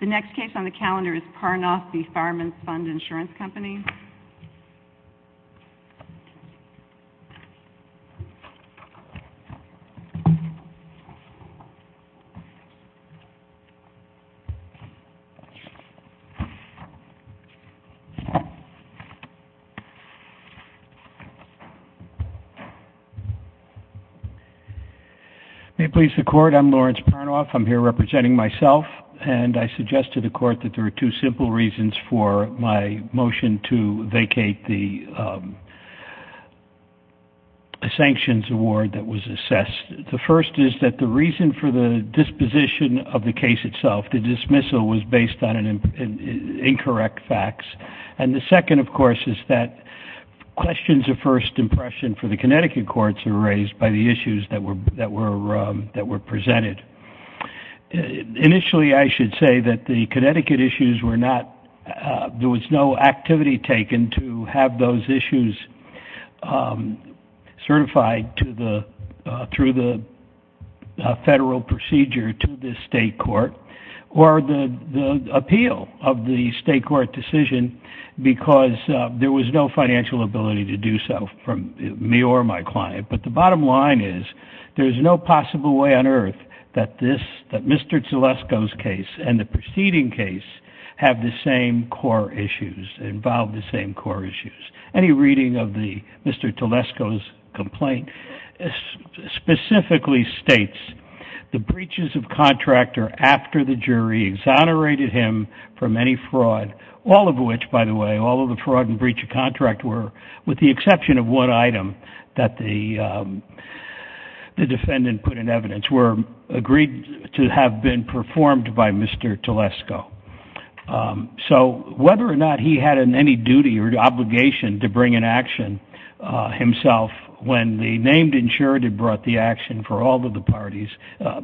The next case on the calendar is Parnoff v. Fireman's Fund Insurance Company. May it please the Court, I'm Lawrence Parnoff. I'm here representing myself, and I suggest to the Court that there are two simple reasons for my motion to vacate the sanctions award that was assessed. The first is that the reason for the disposition of the case itself, the dismissal, was based on incorrect facts. And the second, of course, is that questions of first impression for the Connecticut courts were raised by the issues that were presented. Initially, I should say that the Connecticut issues were not, there was no activity taken to have those issues certified through the federal procedure to the state court, or the appeal of the state court decision because there was no financial ability to do so from me or my client. But the bottom line is there is no possible way on earth that Mr. Tulesko's case and the preceding case have the same core issues, involve the same core issues. Any reading of Mr. Tulesko's complaint specifically states the breaches of contract are after the jury exonerated him from any fraud, all of which, by the way, all of the fraud and breach of contract were with the exception of one item that the defendant put in evidence, were agreed to have been performed by Mr. Tulesko. So whether or not he had any duty or obligation to bring an action himself when the named insurant had brought the action for all of the parties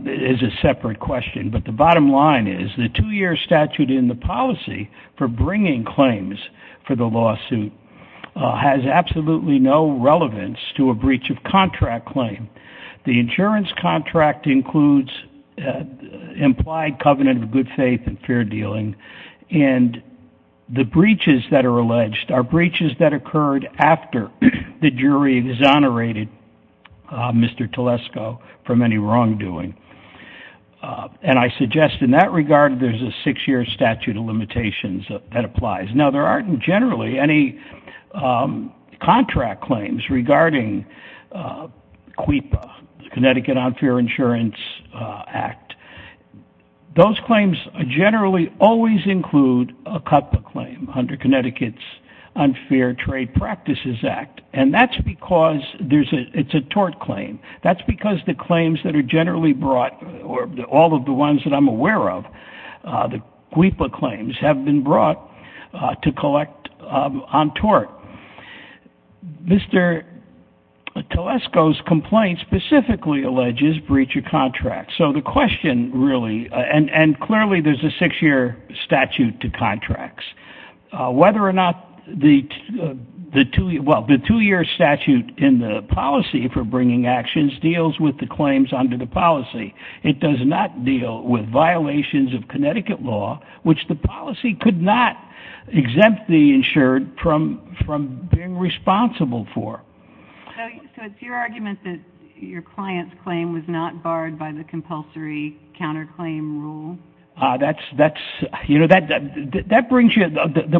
is a separate question. But the bottom line is the two-year statute in the policy for bringing claims for the lawsuit has absolutely no relevance to a breach of contract claim. The insurance contract includes implied covenant of good faith and fair dealing, and the breaches that are alleged are breaches that occurred after the jury exonerated Mr. Tulesko from any wrongdoing. And I suggest in that regard there's a six-year statute of limitations that applies. Now, there aren't generally any contract claims regarding CWIPA, Connecticut Unfair Insurance Act. Those claims generally always include a CUTPA claim under Connecticut's Unfair Trade Practices Act, and that's because it's a tort claim. That's because the claims that are generally brought, or all of the ones that I'm aware of, the CWIPA claims have been brought to collect on tort. Mr. Tulesko's complaint specifically alleges breach of contract. So the question really, and clearly there's a six-year statute to contracts. Whether or not the two-year statute in the policy for bringing actions deals with the claims under the policy. It does not deal with violations of Connecticut law, which the policy could not exempt the insured from being responsible for. So it's your argument that your client's claim was not barred by the compulsory counterclaim rule? The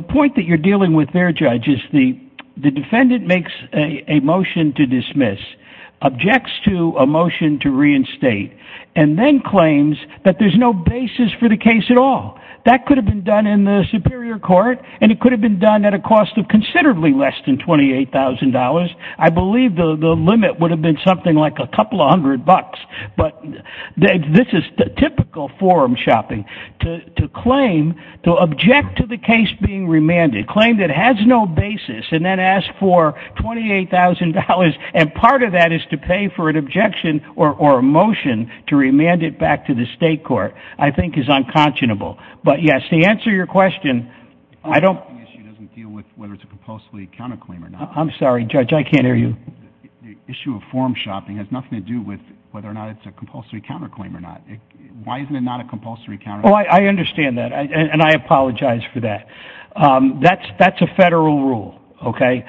point that you're dealing with there, Judge, is the defendant makes a motion to dismiss, objects to a motion to reinstate, and then claims that there's no basis for the case at all. That could have been done in the superior court, and it could have been done at a cost of considerably less than $28,000. I believe the limit would have been something like a couple of hundred bucks. But this is typical forum shopping. To claim, to object to the case being remanded, claim that has no basis, and then ask for $28,000, and part of that is to pay for an objection or a motion to remand it back to the state court, I think is unconscionable. But yes, to answer your question, I don't... The issue doesn't deal with whether it's a compulsory counterclaim or not. I'm sorry, Judge, I can't hear you. The issue of forum shopping has nothing to do with whether or not it's a compulsory counterclaim or not. Why isn't it not a compulsory counterclaim? Oh, I understand that, and I apologize for that. That's a federal rule, okay?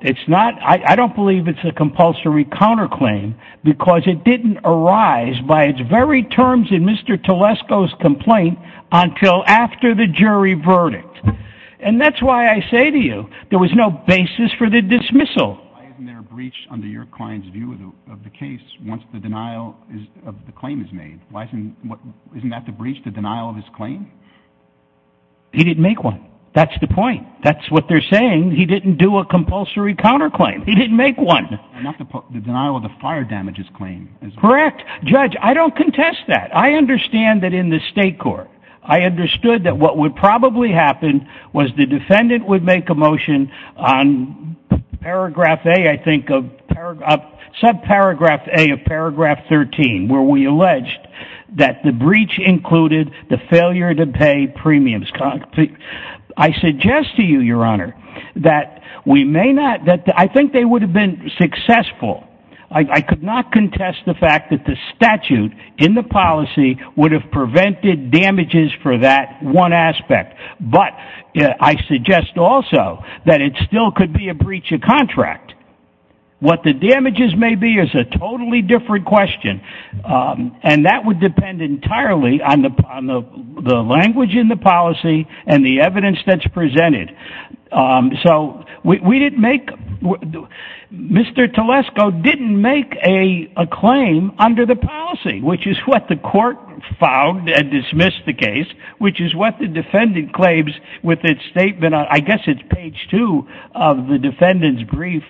It's not... I don't believe it's a compulsory counterclaim because it didn't arise by its very terms in Mr. Telesco's complaint until after the jury verdict. And that's why I say to you, there was no basis for the dismissal. Why isn't there a breach under your client's view of the case once the denial of the claim is made? Isn't that the breach, the denial of his claim? He didn't make one. That's the point. That's what they're saying. He didn't do a compulsory counterclaim. He didn't make one. Not the denial of the fire damages claim. Correct. Judge, I don't contest that. I understand that in the state court, I understood that what would probably happen was the defendant would make a motion on paragraph A, I think, of subparagraph A of paragraph 13, where we alleged that the breach included the failure to pay premiums. I suggest to you, Your Honor, that we may not... I think they would have been successful. I could not contest the fact that the statute in the policy would have prevented damages for that one aspect. But I suggest also that it still could be a breach of contract. What the damages may be is a totally different question. And that would depend entirely on the language in the policy and the evidence that's presented. So we didn't make... Mr. Telesco didn't make a claim under the policy, which is what the court found and dismissed the case, which is what the defendant claims with its statement. I guess it's page two of the defendant's brief.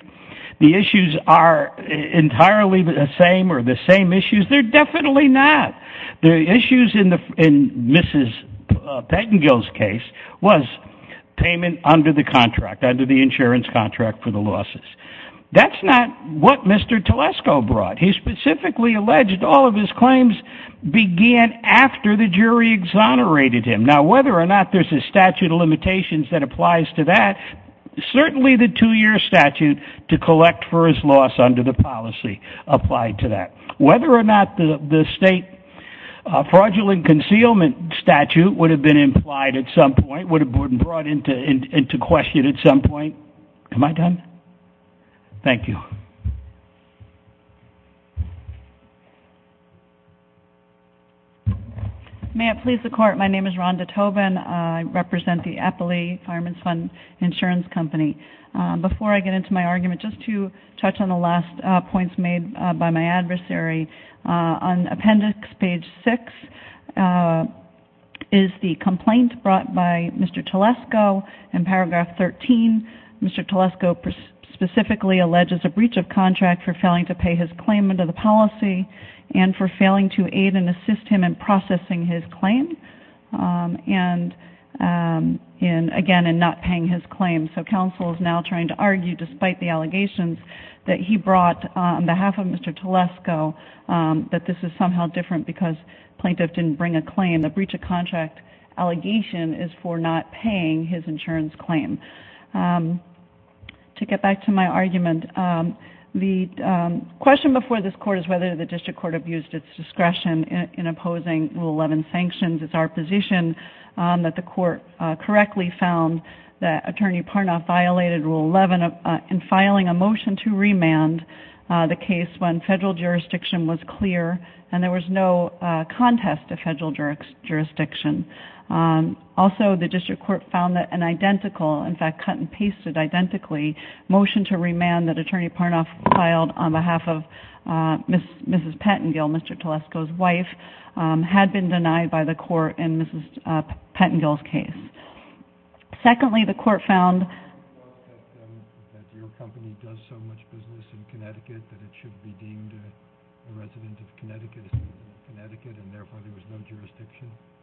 The issues are entirely the same or the same issues. They're definitely not. The issues in Mrs. Pettengill's case was payment under the contract, under the insurance contract for the losses. That's not what Mr. Telesco brought. He specifically alleged all of his claims began after the jury exonerated him. Now, whether or not there's a statute of limitations that applies to that, certainly the two-year statute to collect for his loss under the policy applied to that. Whether or not the state fraudulent concealment statute would have been implied at some point, would have been brought into question at some point. Am I done? Thank you. May it please the court, my name is Rhonda Tobin. I represent the Eppley Fireman's Fund Insurance Company. Before I get into my argument, just to touch on the last points made by my adversary. On appendix page six is the complaint brought by Mr. Telesco in paragraph 13. Mr. Telesco specifically alleges a breach of contract for failing to pay his claim under the policy and for failing to aid and assist him in processing his claim, and again, in not paying his claim. So counsel is now trying to argue, despite the allegations that he brought on behalf of Mr. Telesco, that this is somehow different because plaintiff didn't bring a claim. The breach of contract allegation is for not paying his insurance claim. To get back to my argument, the question before this court is whether the district court abused its discretion in opposing Rule 11 sanctions. It's our position that the court correctly found that Attorney Parnoff violated Rule 11 in filing a motion to remand the case when federal jurisdiction was clear and there was no contest to federal jurisdiction. Also, the district court found that an identical, in fact, cut and pasted identically, motion to remand that Attorney Parnoff filed on behalf of Mrs. Pettengill, Mr. Telesco's wife, had been denied by the court in Mrs. Pettengill's case. Secondly, the court found...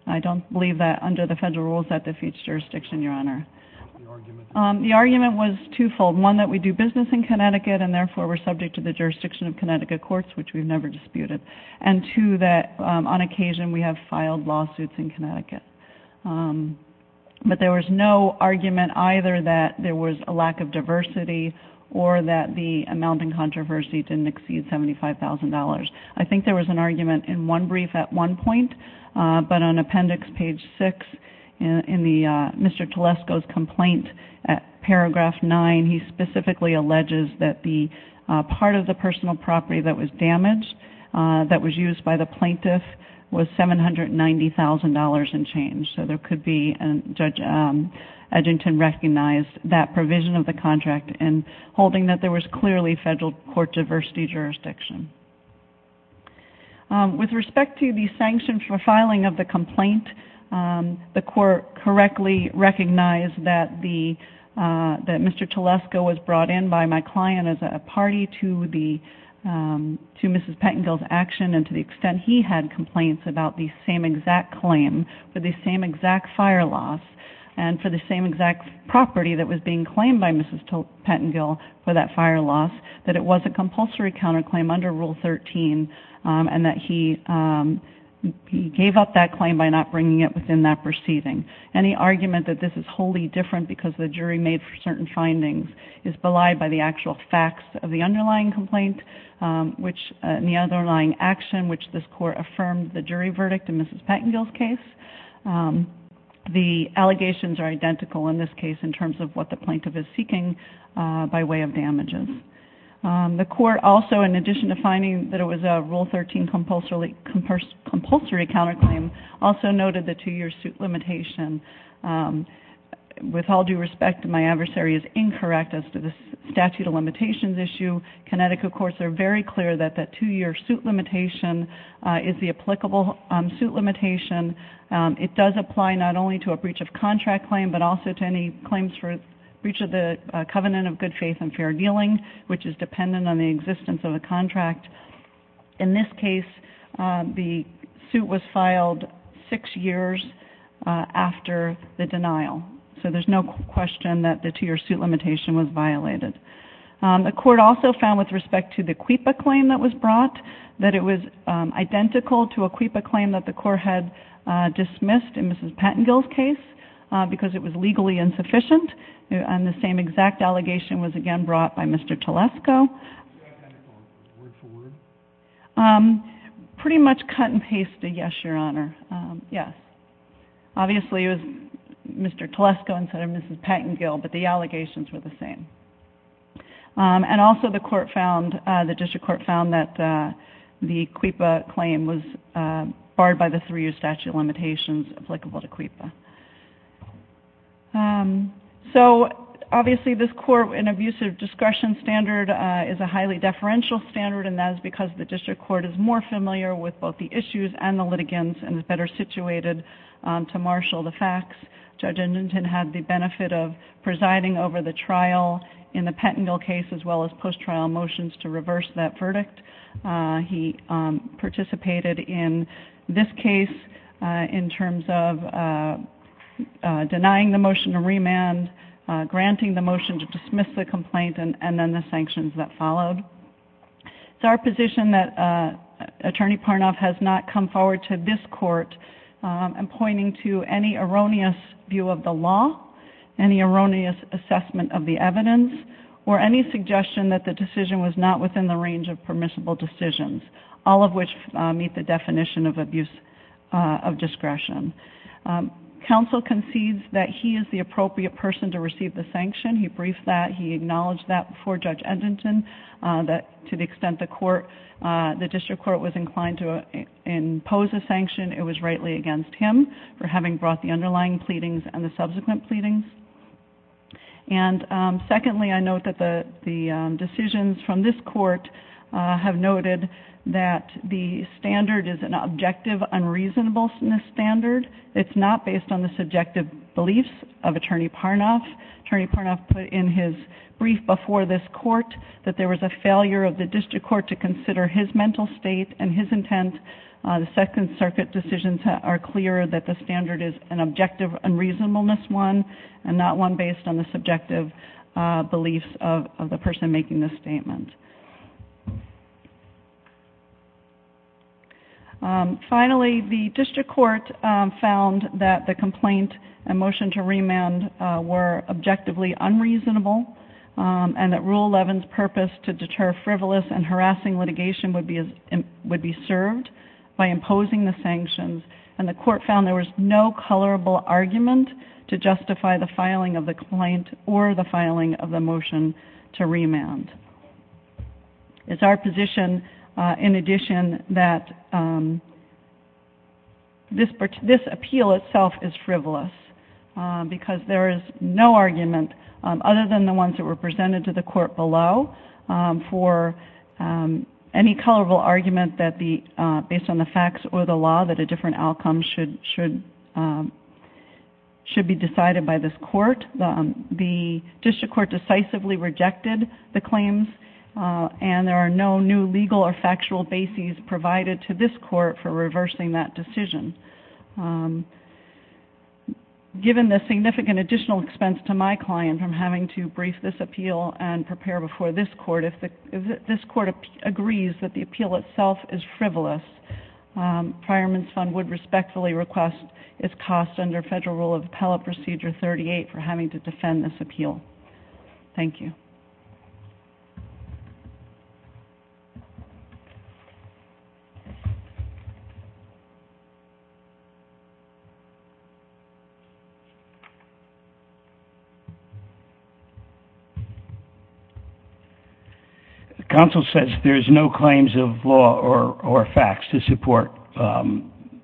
I don't believe that under the federal rules that defeats jurisdiction, Your Honor. The argument was twofold. One, that we do business in Connecticut and therefore we're subject to the jurisdiction of Connecticut courts, which we've never disputed. And two, that on occasion we have filed lawsuits in Connecticut. But there was no argument either that there was a lack of diversity or that the amount in controversy didn't exceed $75,000. I think there was an argument in one brief at one point, but on Appendix Page 6 in Mr. Telesco's complaint, Paragraph 9, he specifically alleges that the part of the personal property that was damaged, that was used by the plaintiff, was $790,000 and change. So there could be, and Judge Edgington recognized that provision of the contract and holding that there was clearly federal court diversity jurisdiction. With respect to the sanction for filing of the complaint, the court correctly recognized that Mr. Telesco was brought in by my client as a party to Mrs. Pettengill's action and to the extent he had complaints about the same exact claim for the same exact fire loss and for the same exact property that was being claimed by Mrs. Pettengill for that fire loss, that it was a compulsory counterclaim under Rule 13 and that he gave up that claim by not bringing it within that proceeding. Any argument that this is wholly different because the jury made certain findings is belied by the actual facts of the underlying complaint and the underlying action which this court affirmed the jury verdict in Mrs. Pettengill's case. The allegations are identical in this case in terms of what the plaintiff is seeking by way of damages. The court also, in addition to finding that it was a Rule 13 compulsory counterclaim, also noted the two-year suit limitation. With all due respect, my adversary is incorrect as to the statute of limitations issue. Connecticut courts are very clear that the two-year suit limitation is the applicable suit limitation. It does apply not only to a breach of contract claim but also to any claims for breach of the covenant of good faith and fair dealing, which is dependent on the existence of a contract. In this case, the suit was filed six years after the denial, so there's no question that the two-year suit limitation was violated. The court also found with respect to the CUIPA claim that was brought that it was identical to a CUIPA claim that the court had dismissed in Mrs. Pettengill's case because it was legally insufficient, and the same exact allegation was again brought by Mr. Telesco. Pretty much cut and pasted yes, Your Honor. Yes. Obviously, it was Mr. Telesco instead of Mrs. Pettengill, but the allegations were the same. And also the court found, the district court found that the CUIPA claim was barred by the three-year statute of limitations applicable to CUIPA. So obviously, this court, an abusive discretion standard is a highly deferential standard, and that is because the district court is more familiar with both the issues and the litigants and is better situated to marshal the facts. Judge Edmonton had the benefit of presiding over the trial in the Pettengill case as well as post-trial motions to reverse that verdict. He participated in this case in terms of denying the motion to remand, granting the motion to dismiss the complaint, and then the sanctions that followed. It's our position that Attorney Parnoff has not come forward to this court in pointing to any erroneous view of the law, any erroneous assessment of the evidence, or any suggestion that the decision was not within the range of permissible decisions, all of which meet the definition of abuse of discretion. Counsel concedes that he is the appropriate person to receive the sanction. He briefed that. He acknowledged that before Judge Edmonton, that to the extent the court, the district court was inclined to impose a sanction, it was rightly against him for having brought the underlying pleadings and the subsequent pleadings. And secondly, I note that the decisions from this court have noted that the standard is an objective unreasonableness standard. It's not based on the subjective beliefs of Attorney Parnoff. Attorney Parnoff put in his brief before this court that there was a failure of the district court to consider his mental state and his intent. The Second Circuit decisions are clear that the standard is an objective unreasonableness one and not one based on the subjective beliefs of the person making this statement. Finally, the district court found that the complaint and motion to remand were objectively unreasonable and that Rule 11's purpose to deter frivolous and harassing litigation would be served by imposing the sanctions, and the court found there was no colorable argument to justify the filing of the complaint or the filing of the motion to remand. It's our position, in addition, that this appeal itself is frivolous because there is no argument other than the ones that were presented to the court below for any colorable argument based on the facts or the law that a different outcome should be decided by this court. The district court decisively rejected the claims and there are no new legal or factual bases provided to this court for reversing that decision. Given the significant additional expense to my client from having to brief this appeal and prepare before this court, if this court agrees that the appeal itself is frivolous, Fireman's Fund would respectfully request its cost under Federal Rule of Appellate Procedure 38 for having to defend this appeal. Thank you. Counsel says there's no claims of law or facts to support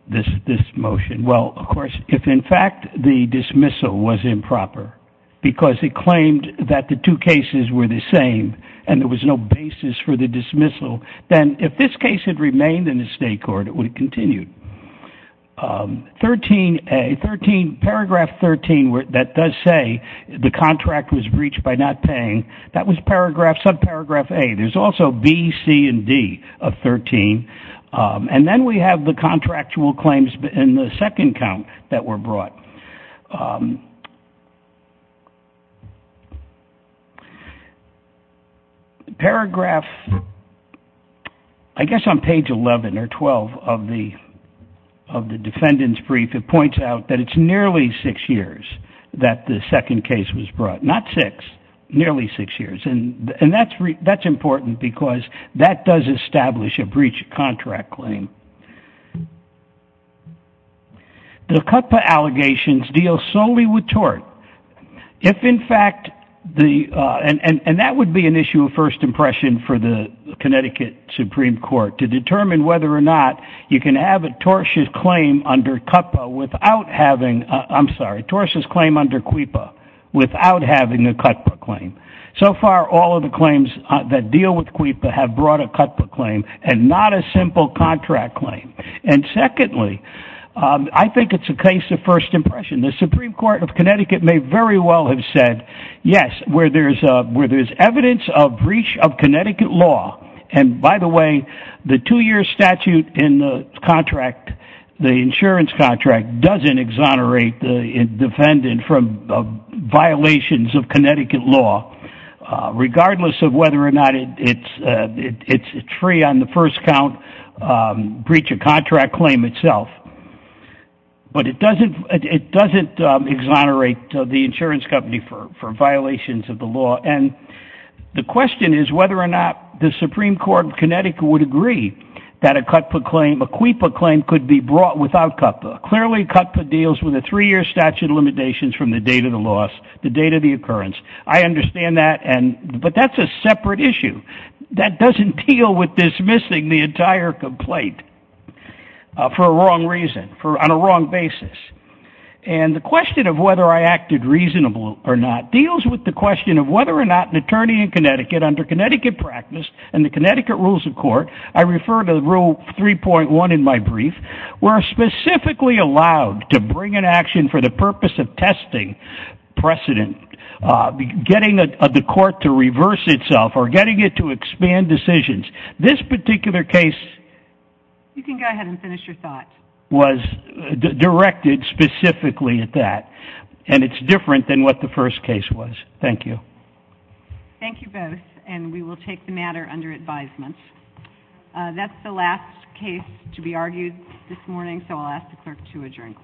this motion. Well, of course, if in fact the dismissal was improper because it claimed that the two cases were the same and there was no basis for the dismissal, then if this case had remained in the state court, it would have continued. Paragraph 13 that does say the contract was breached by not paying, that was subparagraph A. There's also B, C, and D of 13. And then we have the contractual claims in the second count that were brought. Paragraph, I guess on page 11 or 12 of the defendant's brief, it points out that it's nearly six years that the second case was brought. Not six, nearly six years. And that's important because that does establish a breach of contract claim. The CUTPA allegations deal solely with tort. If in fact the, and that would be an issue of first impression for the Connecticut Supreme Court, to determine whether or not you can have a tortious claim under CUTPA without having, I'm sorry, tortious claim under CUIPA without having a CUTPA claim. So far all of the claims that deal with CUIPA have brought a CUTPA claim and not a simple contract claim. And secondly, I think it's a case of first impression. The Supreme Court of Connecticut may very well have said, yes, where there's evidence of breach of Connecticut law. And by the way, the two-year statute in the contract, the insurance contract, doesn't exonerate the defendant from violations of Connecticut law. Regardless of whether or not it's free on the first count breach of contract claim itself. But it doesn't exonerate the insurance company for violations of the law. And the question is whether or not the Supreme Court of Connecticut would agree that a CUTPA claim, a CUIPA claim could be brought without CUTPA. Clearly CUTPA deals with a three-year statute of limitations from the date of the loss, the date of the occurrence. I understand that, but that's a separate issue. That doesn't deal with dismissing the entire complaint for a wrong reason, on a wrong basis. And the question of whether I acted reasonable or not deals with the question of whether or not an attorney in Connecticut under Connecticut practice and the Connecticut rules of court, I refer to rule 3.1 in my brief, were specifically allowed to bring an action for the purpose of testing precedent, getting the court to reverse itself or getting it to expand decisions. This particular case was directed specifically at that, and it's different than what the first case was. Thank you. Thank you both, and we will take the matter under advisement. That's the last case to be argued this morning, so I'll ask the clerk to adjourn.